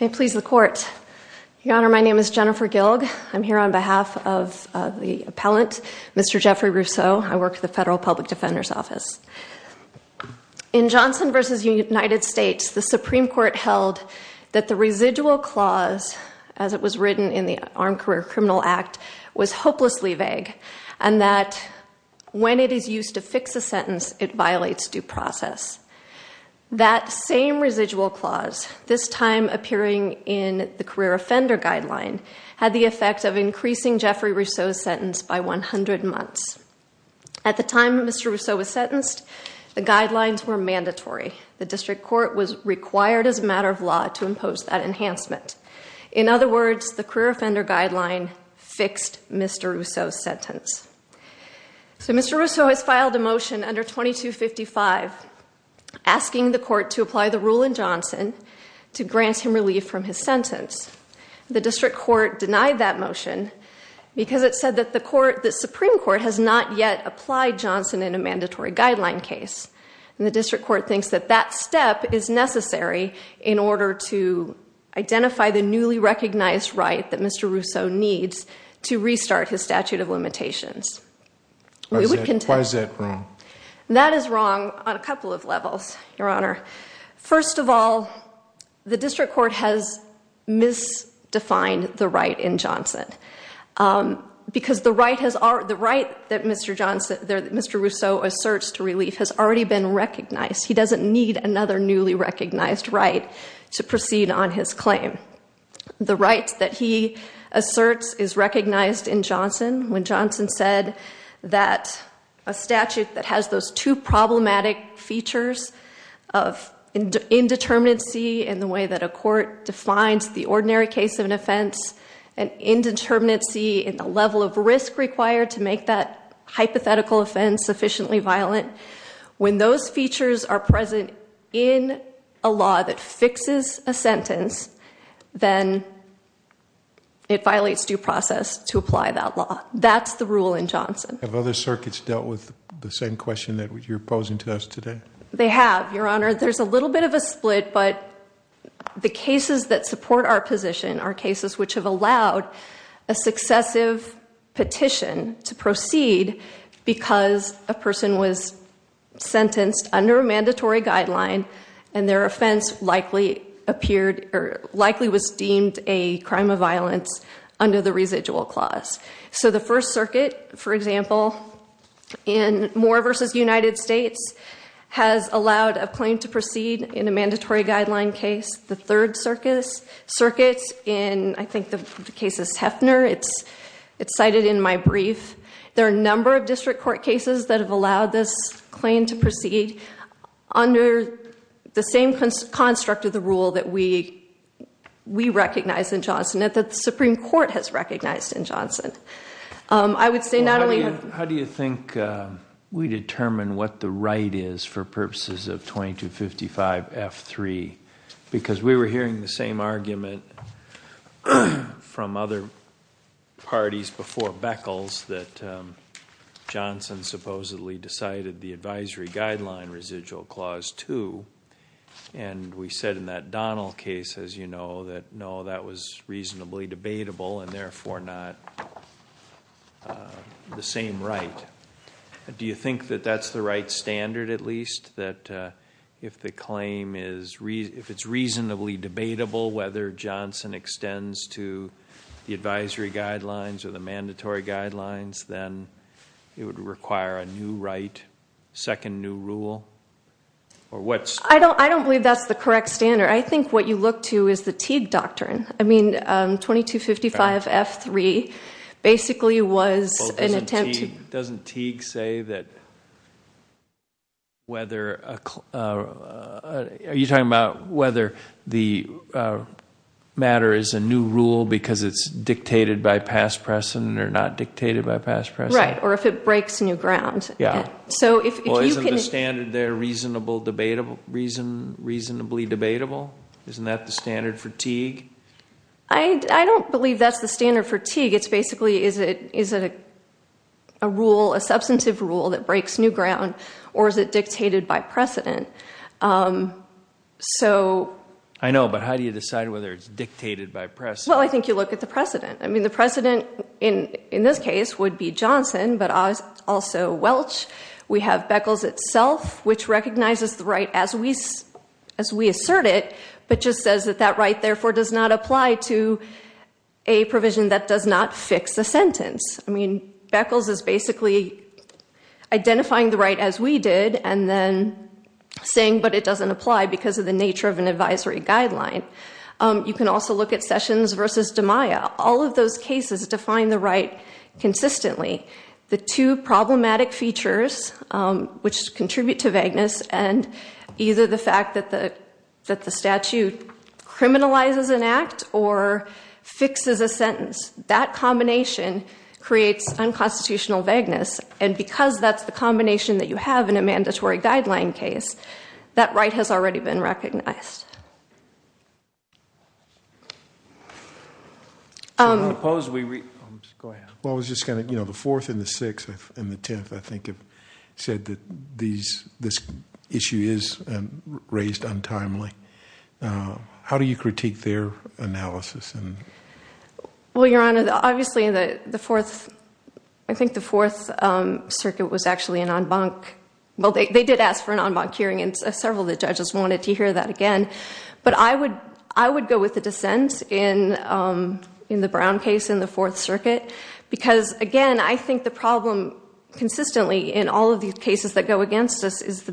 May it please the court. Your Honor, my name is Jennifer Gilg. I'm here on behalf of the appellant, Mr. Jeffrey Russo. I work the Federal Public Defender's Office. In Johnson v. United States, I'm here to talk about the same residual clause that was written in the Armed Career Criminal Act was hopelessly vague and that when it is used to fix a sentence, it violates due process. That same residual clause, this time appearing in the career offender guideline, had the effect of increasing Jeffrey Russo's sentence by 100 months. At the time Mr. Russo was the career offender guideline fixed Mr. Russo's sentence. So Mr. Russo has filed a motion under 2255 asking the court to apply the rule in Johnson to grant him relief from his sentence. The district court denied that motion because it said that the court, the Supreme Court, has not yet applied Johnson in a mandatory guideline case. And the district court thinks that that step is that Mr. Russo needs to restart his statute of limitations. Why is that wrong? That is wrong on a couple of levels, Your Honor. First of all, the district court has misdefined the right in Johnson because the right that Mr. Russo asserts to relief has already been recognized. He doesn't need another newly recognized right to proceed on his claim. The right that he asserts is recognized in Johnson when Johnson said that a statute that has those two problematic features of indeterminacy in the way that a court defines the ordinary case of an offense and indeterminacy in the level of risk required to make that hypothetical offense sufficiently violent, when those features are present in a law that fixes a sentence, then it violates due process to apply that law. That's the rule in Johnson. Have other circuits dealt with the same question that you're posing to us today? They have, Your Honor. There's a little bit of a split, but the cases that support our position are cases which have allowed a successive petition to proceed because a person was sentenced under a mandatory guideline and their offense likely was deemed a crime of violence under the residual clause. So the First Circuit, for example, in Moore v. United States has allowed a claim to proceed in a mandatory guideline case. The Third Circuit in, I think, the case of Hefner, it's cited in my brief. There are a number of district court cases that have allowed this claim to proceed under the same construct of the rule that we recognize in Johnson, that the Supreme Court has recognized in Johnson. I would say not only have... How do you think we determine what the right is for purposes of 2255 F3? Because we were hearing the same argument from other parties before Beckles that Johnson supposedly decided the advisory guideline residual clause 2, and we said in that Donnell case, as you know, that no, that was reasonably debatable and therefore not the same right. Do you think that that's the right whether Johnson extends to the advisory guidelines or the mandatory guidelines, then it would require a new right, second new rule, or what's... I don't believe that's the correct standard. I think what you look to is the Teague doctrine. I mean 2255 F3 basically was an attempt to... Matter is a new rule because it's dictated by past precedent or not dictated by past precedent? Right, or if it breaks new ground. Yeah. So if you can... Well, isn't the standard there reasonably debatable? Isn't that the standard for Teague? I don't believe that's the standard for Teague. It's basically, is it a rule, a substantive rule that breaks new ground, or is it dictated by precedent? So... I know, but how do you decide whether it's dictated by precedent? Well, I think you look at the precedent. I mean, the precedent in this case would be Johnson, but also Welch. We have Beckles itself, which recognizes the right as we assert it, but just says that that right therefore does not apply to a provision that does not fix the sentence. I mean, Beckles is basically identifying the right as we did and then saying, but it does not apply to a provisional guideline. You can also look at Sessions versus DiMaia. All of those cases define the right consistently. The two problematic features, which contribute to vagueness and either the fact that the statute criminalizes an act or fixes a sentence, that combination creates unconstitutional vagueness. And because that's the combination that you have in a mandatory guideline case, that right has already been recognized. Well, I was just going to... The Fourth and the Sixth and the Tenth, I think, said that this issue is raised untimely. How do you critique their analysis? Well, Your Honor, obviously, I think the Fourth Circuit was actually an en banc... Well, they did ask for an en banc hearing and several of the judges wanted to hear that again. But I would go with the dissent in the Brown case in the Fourth Circuit because, again, I think the problem consistently in all of these cases that go against us is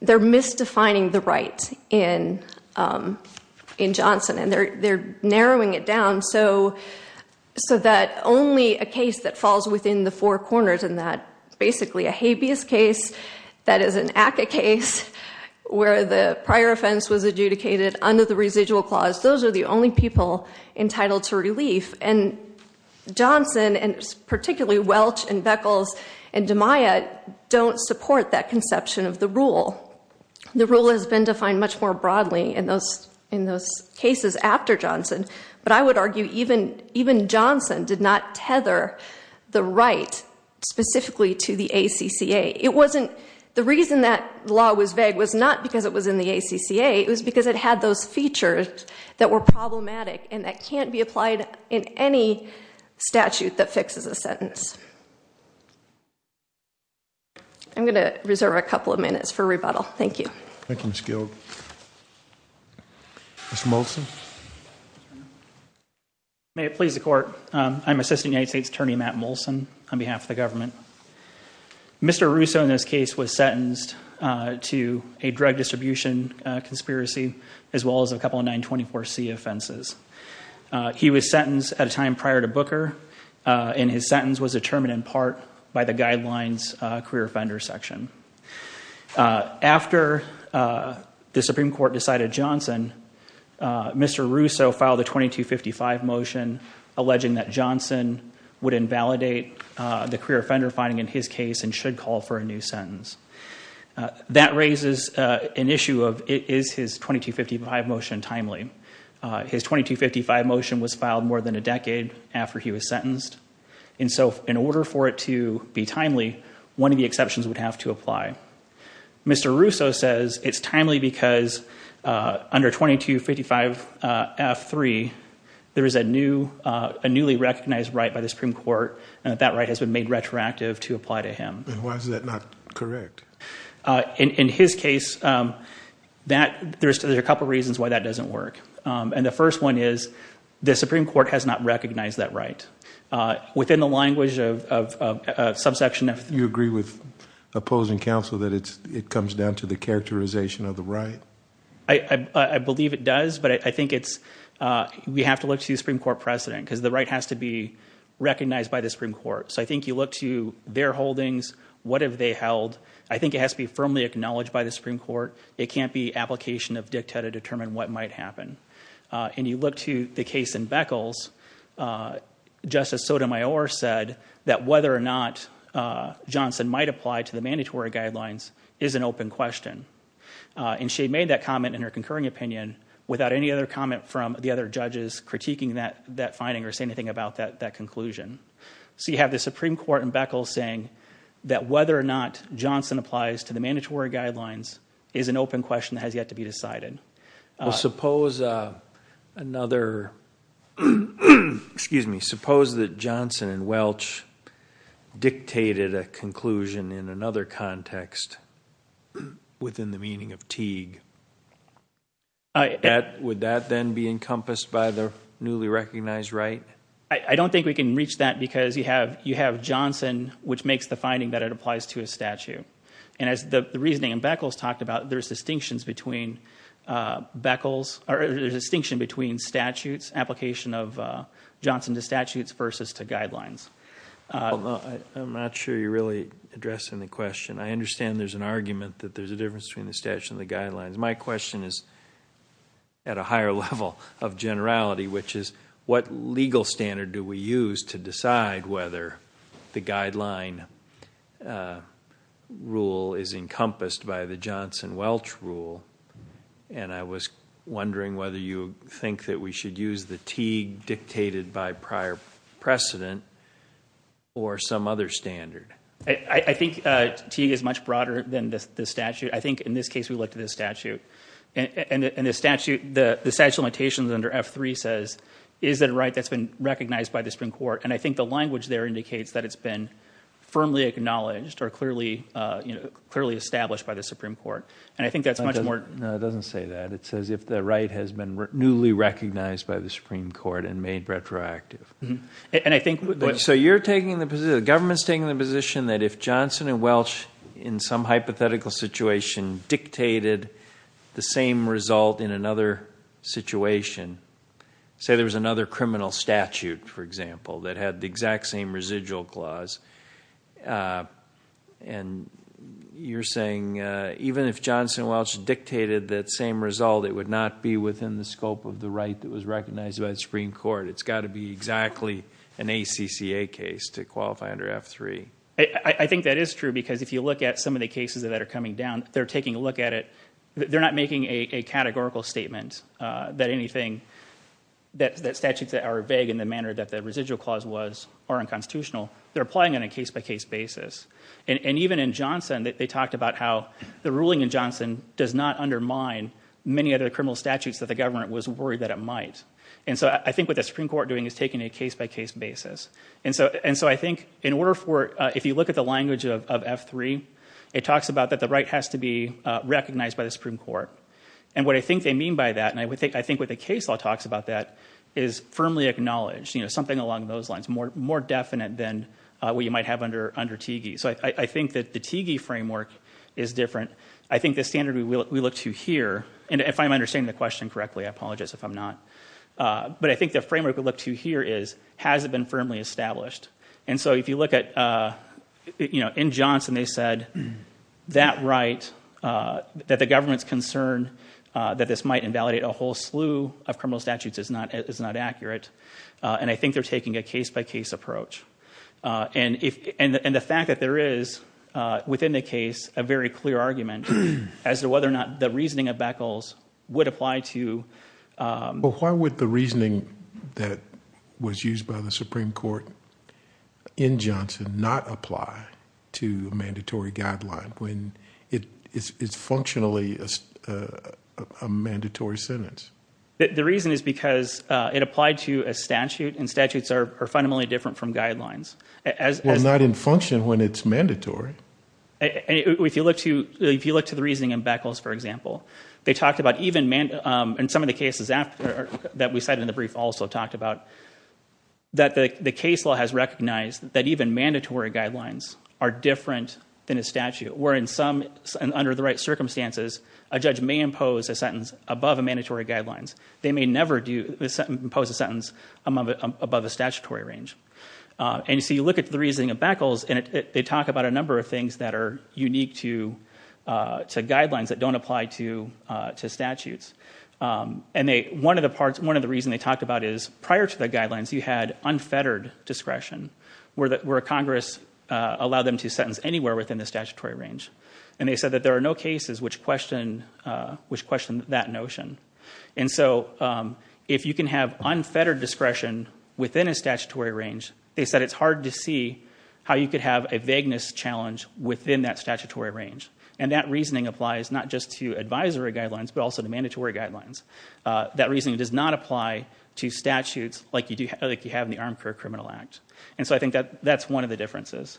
they're misdefining the right in Johnson. And they're narrowing it down so that only a case that is an ACCA case, where the prior offense was adjudicated under the residual clause, those are the only people entitled to relief. And Johnson, and particularly Welch and Beckles and DeMaia, don't support that conception of the rule. The rule has been defined much more broadly in those cases after Johnson. But I would argue even Johnson did not tether the right specifically to the ACCA. The reason that law was vague was not because it was in the ACCA. It was because it had those features that were problematic and that can't be applied in any statute that fixes a sentence. I'm going to reserve a couple of minutes for rebuttal. Thank you. Thank you, Ms. Guild. Mr. Molson? May it please the Court. I'm Assistant United States Attorney Matt Molson on behalf of the Justice Department. Mr. Russo in this case was sentenced to a drug distribution conspiracy, as well as a couple of 924C offenses. He was sentenced at a time prior to Booker, and his sentence was determined in part by the guidelines career offender section. After the Supreme Court decided Johnson, Mr. Russo filed a 2255 motion alleging that Johnson would invalidate the career offender finding in his case and should call for a new sentence. That raises an issue of is his 2255 motion timely? His 2255 motion was filed more than a decade after he was sentenced. In order for it to be timely, one of the exceptions would have to apply. Mr. Russo says it's timely because under 2255F3, there is a newly recognized right by the Supreme Court and that right has been made retroactive to apply to him. Why is that not correct? In his case, there's a couple reasons why that doesn't work. The first one is the Supreme Court has not recognized that right. Within the language of subsection F3. You agree with opposing counsel that it comes down to the characterization of the right? I believe it does, but I think we have to look to the Supreme Court precedent because the right has to be recognized by the Supreme Court. I think you look to their holdings. What have they held? I think it has to be firmly acknowledged by the Supreme Court. It can't be application of dicta to determine what might happen. You look to the case in Beckles. Justice Sotomayor said that whether or not Johnson might apply to the mandatory guidelines is an open question. She made that comment in her concurring opinion without any other comment from the other judges critiquing that finding or saying anything about that conclusion. You have the Supreme Court in Beckles saying that whether or not Johnson applies to the mandatory guidelines is an open question that has yet to be decided. Suppose that Johnson and Welch dictated a conclusion in another context within the meaning of Teague. Would that then be encompassed by the newly recognized right? I don't think we can reach that because you have Johnson which makes the finding that it applies to a statute. And as the reasoning in Beckles talked about, there's a distinction between application of Johnson to statutes versus to guidelines. I'm not sure you're really addressing the question. I understand there's an argument that there's a difference between the statute and the guidelines. My question is at a higher level of generality which is what legal standard do we use to decide whether the guideline rule is encompassed by the Johnson and Welch rule? And I was wondering whether you think that we should use the Teague dictated by prior precedent or some other standard. I think Teague is much broader than the statute. I think in this case we look to the statute. And the statute limitations under F3 says is that a right that's been recognized by the Supreme Court? And I think the language there indicates that it's been firmly acknowledged or clearly established by the Supreme Court. And I think that's much more... No, it doesn't say that. It says if the right has been newly recognized by the Supreme Court and made retroactive. So you're taking the position, the government's taking the position that if Johnson and Welch in some hypothetical situation dictated the same result in another situation, say there was another criminal statute, for example, that had the exact same residual clause. And you're saying even if Johnson and Welch dictated that same result, it would not be within the scope of the right that was recognized by the Supreme Court. It's got to be exactly an ACCA case to qualify under F3. I think that is true because if you look at some of the cases that are coming down, they're taking a look at it. They're not making a categorical statement that anything, that statutes that are vague in the manner that the residual clause was unconstitutional, they're applying on a case-by-case basis. And even in Johnson, they talked about how the ruling in Johnson does not undermine many of the criminal statutes that the government was worried that it might. And so I think what the Supreme Court is doing is taking a case-by-case basis. And so I think in order for, if you look at the language of F3, it talks about that the right has to be recognized by the Supreme Court. And what I think they mean by that, and I think what the case law talks about that, is firmly acknowledged, you know, something along those lines, more definite than what you might have under TIGI. So I think that the TIGI framework is different. I think the standard we look to here, and if I'm understanding the question correctly, I apologize if I'm not, but I think the framework we look to here is, has it been firmly established? And so if you look at, you know, in Johnson, they said that right, that the government's that this might invalidate a whole slew of criminal statutes is not accurate. And I think they're taking a case-by-case approach. And the fact that there is, within the case, a very clear argument as to whether or not the reasoning of Beckles would apply to... But why would the reasoning that was used by the Supreme Court in Johnson not apply to a mandatory a mandatory sentence? The reason is because it applied to a statute, and statutes are fundamentally different from guidelines. Well, not in function when it's mandatory. And if you look to, if you look to the reasoning in Beckles, for example, they talked about even, and some of the cases that we cited in the brief also talked about, that the case law has recognized that even mandatory guidelines are different than a impose a sentence above a mandatory guidelines. They may never impose a sentence above a statutory range. And so you look at the reasoning of Beckles, and they talk about a number of things that are unique to guidelines that don't apply to statutes. And they, one of the parts, one of the reasons they talked about is, prior to the guidelines, you had unfettered discretion, where Congress allowed them to sentence anywhere within the statutory range. And they said that there are no cases which question, which question that notion. And so, if you can have unfettered discretion within a statutory range, they said it's hard to see how you could have a vagueness challenge within that statutory range. And that reasoning applies not just to advisory guidelines, but also to mandatory guidelines. That reasoning does not apply to statutes like you do, like you have in the Armchair Criminal Act. And so I think that that's one of the differences.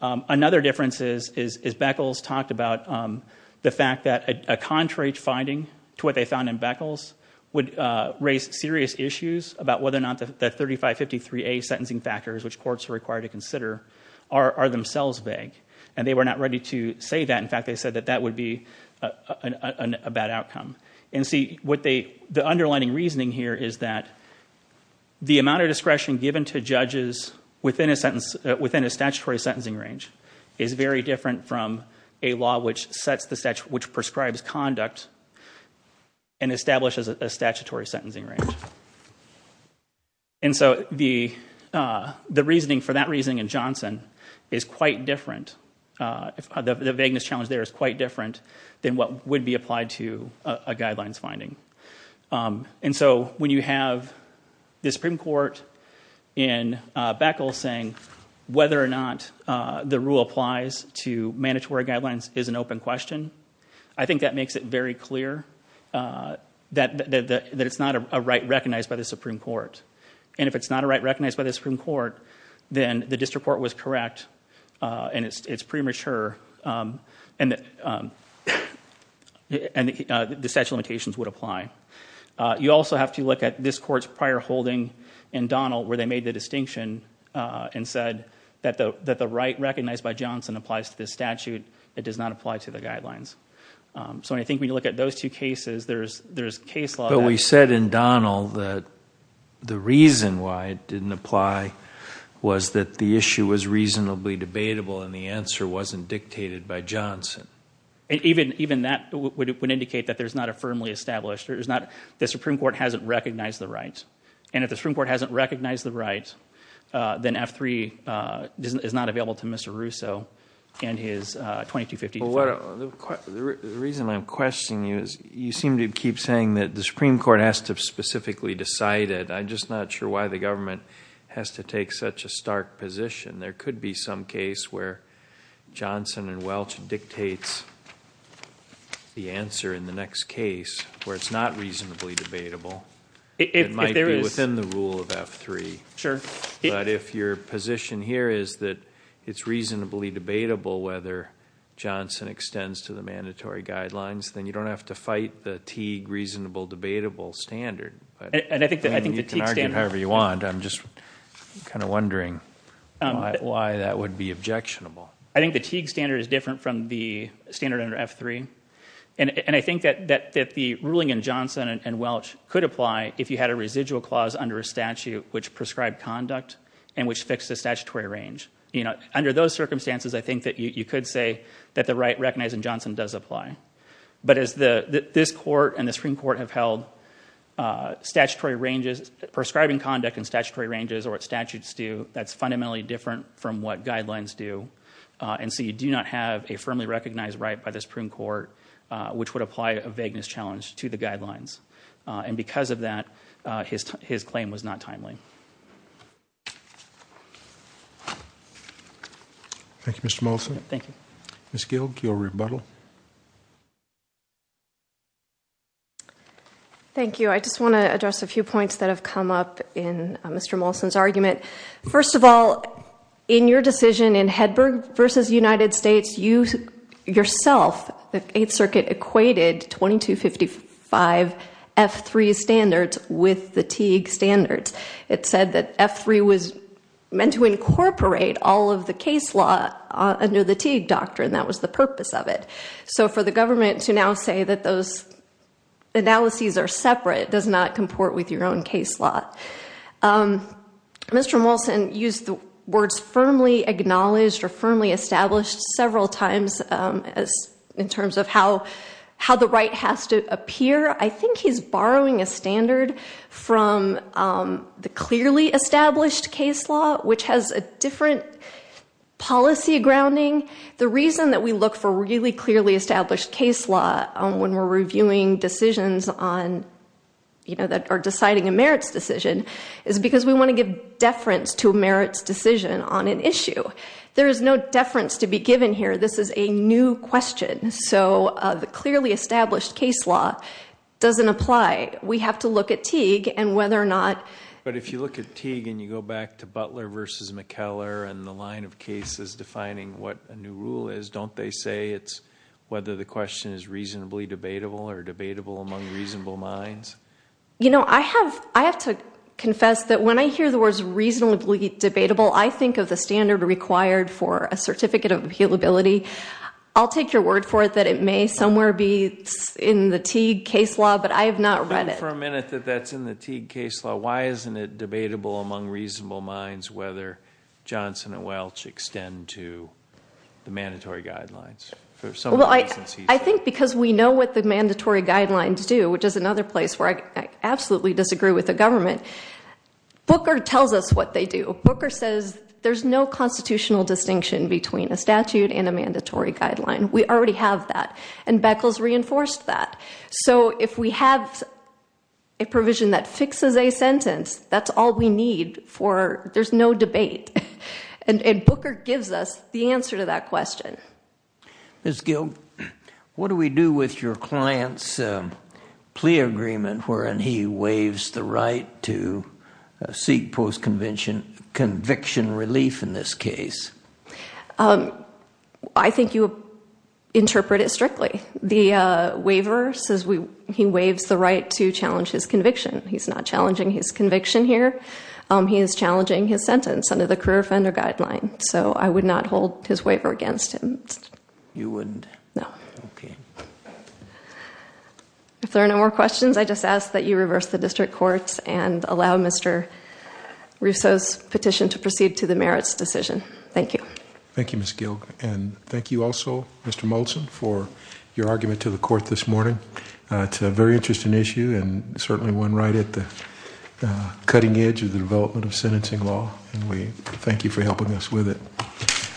Another difference is Beckles talked about the fact that a contrary finding to what they found in Beckles would raise serious issues about whether or not the 3553A sentencing factors, which courts are required to consider, are themselves vague. And they were not ready to say that. In fact, they said that that would be a bad outcome. And see, the underlining reasoning here is that the amount of discretion given to judges within a statutory sentencing range is very different from a law which sets the statute, which prescribes conduct and establishes a statutory sentencing range. And so the reasoning for that reasoning in Johnson is quite different. The vagueness challenge there is quite different than what would be applied to a guidelines finding. And so when you have the Supreme Court in Beckles saying whether or not the rule applies to mandatory guidelines is an open question. I think that makes it very clear that it's not a right recognized by the Supreme Court. And if it's not a right recognized by the Supreme Court, then the district court was correct. And it's premature. And the statute of limitations would apply. You also have to look at this court's prior holding in Donnell where they made the distinction and said that the right recognized by Johnson applies to this statute. It does not apply to the guidelines. So I think when you look at those two cases, there's case law. But we said in Donnell that the reason why it didn't apply was that the issue was reasonably debatable and the answer wasn't dictated by Johnson. And even that would indicate that there's not a firmly established, the Supreme Court hasn't recognized the right. And if the Supreme Court hasn't recognized the right, then F-3 is not available to Mr. Russo and his 2250. Well, the reason I'm questioning you is you seem to keep saying that the Supreme Court has to specifically decide it. I'm just not sure why the government has to take such a stark position. There could be some case where Johnson and Welch dictates the answer in the next case where it's not reasonably debatable. It might be within the rule of F-3. Sure. But if your position here is that it's reasonably debatable whether Johnson extends to the mandatory guidelines, then you don't have to fight the Teague reasonable, debatable standard. And I think the Teague standard— You can argue however you want. I'm just kind of wondering. Why that would be objectionable. I think the Teague standard is different from the standard under F-3. And I think that the ruling in Johnson and Welch could apply if you had a residual clause under a statute which prescribed conduct and which fixed the statutory range. Under those circumstances, I think that you could say that the right recognized in Johnson does apply. But as this court and the Supreme Court have held prescribing conduct in statutory ranges or what statutes do, that's fundamentally different from what guidelines do. And so you do not have a firmly recognized right by the Supreme Court which would apply a vagueness challenge to the guidelines. And because of that, his claim was not timely. Thank you, Mr. Molson. Thank you. Ms. Gilg, your rebuttal. Thank you. I just want to address a few points that have come up in Mr. Molson's argument. First of all, in your decision in Hedberg v. United States, you yourself, the Eighth Circuit, equated 2255 F-3 standards with the Teague standards. It said that F-3 was meant to incorporate all of the case law under the Teague doctrine. That was the purpose of it. So for the government to now say that those analyses are separate does not comport with your own case law. Mr. Molson used the words firmly acknowledged or firmly established several times in terms of how the right has to appear. I think he's borrowing a standard from the clearly established case law, which has a different policy grounding. The reason that we look for really clearly established case law when we're reviewing decisions that are deciding a merits decision is because we want to give deference to a merits decision on an issue. There is no deference to be given here. This is a new question. So the clearly established case law doesn't apply. We have to look at Teague and whether or not- But if you look at Teague and you go back to Butler v. McKellar and the line of cases defining what a new rule is, don't they say it's whether the question is reasonably debatable or debatable among reasonable minds? You know, I have to confess that when I hear the words reasonably debatable, I think of the standard required for a certificate of appealability. I'll take your word for it that it may somewhere be in the Teague case law, but I have not read it. For a minute that that's in the Teague case law, why isn't it debatable among reasonable minds whether Johnson and Welch extend to the mandatory guidelines? I think because we know what the mandatory guidelines do, which is another place where I absolutely disagree with the government. Booker tells us what they do. Booker says there's no constitutional distinction between a statute and a mandatory guideline. We already have that and Beckles reinforced that. So if we have a provision that fixes a sentence, that's all we need for there's no debate. And Booker gives us the answer to that question. Ms. Gill, what do we do with your client's plea agreement wherein he waives the right to seek post-conviction relief in this case? I think you interpret it strictly. The waiver says he waives the right to challenge his conviction. He's not challenging his conviction here. He is challenging his sentence under the career offender guideline. So I would not hold his waiver against him. You wouldn't? No. If there are no more questions, I just ask that you reverse the district courts and allow Mr. Russo's petition to proceed to the merits decision. Thank you. Thank you, Ms. Gill. And thank you also, Mr. Molson, for your argument to the court this morning. It's a very interesting issue and certainly one right at the cutting edge of the development of sentencing law. And we thank you for helping us with it.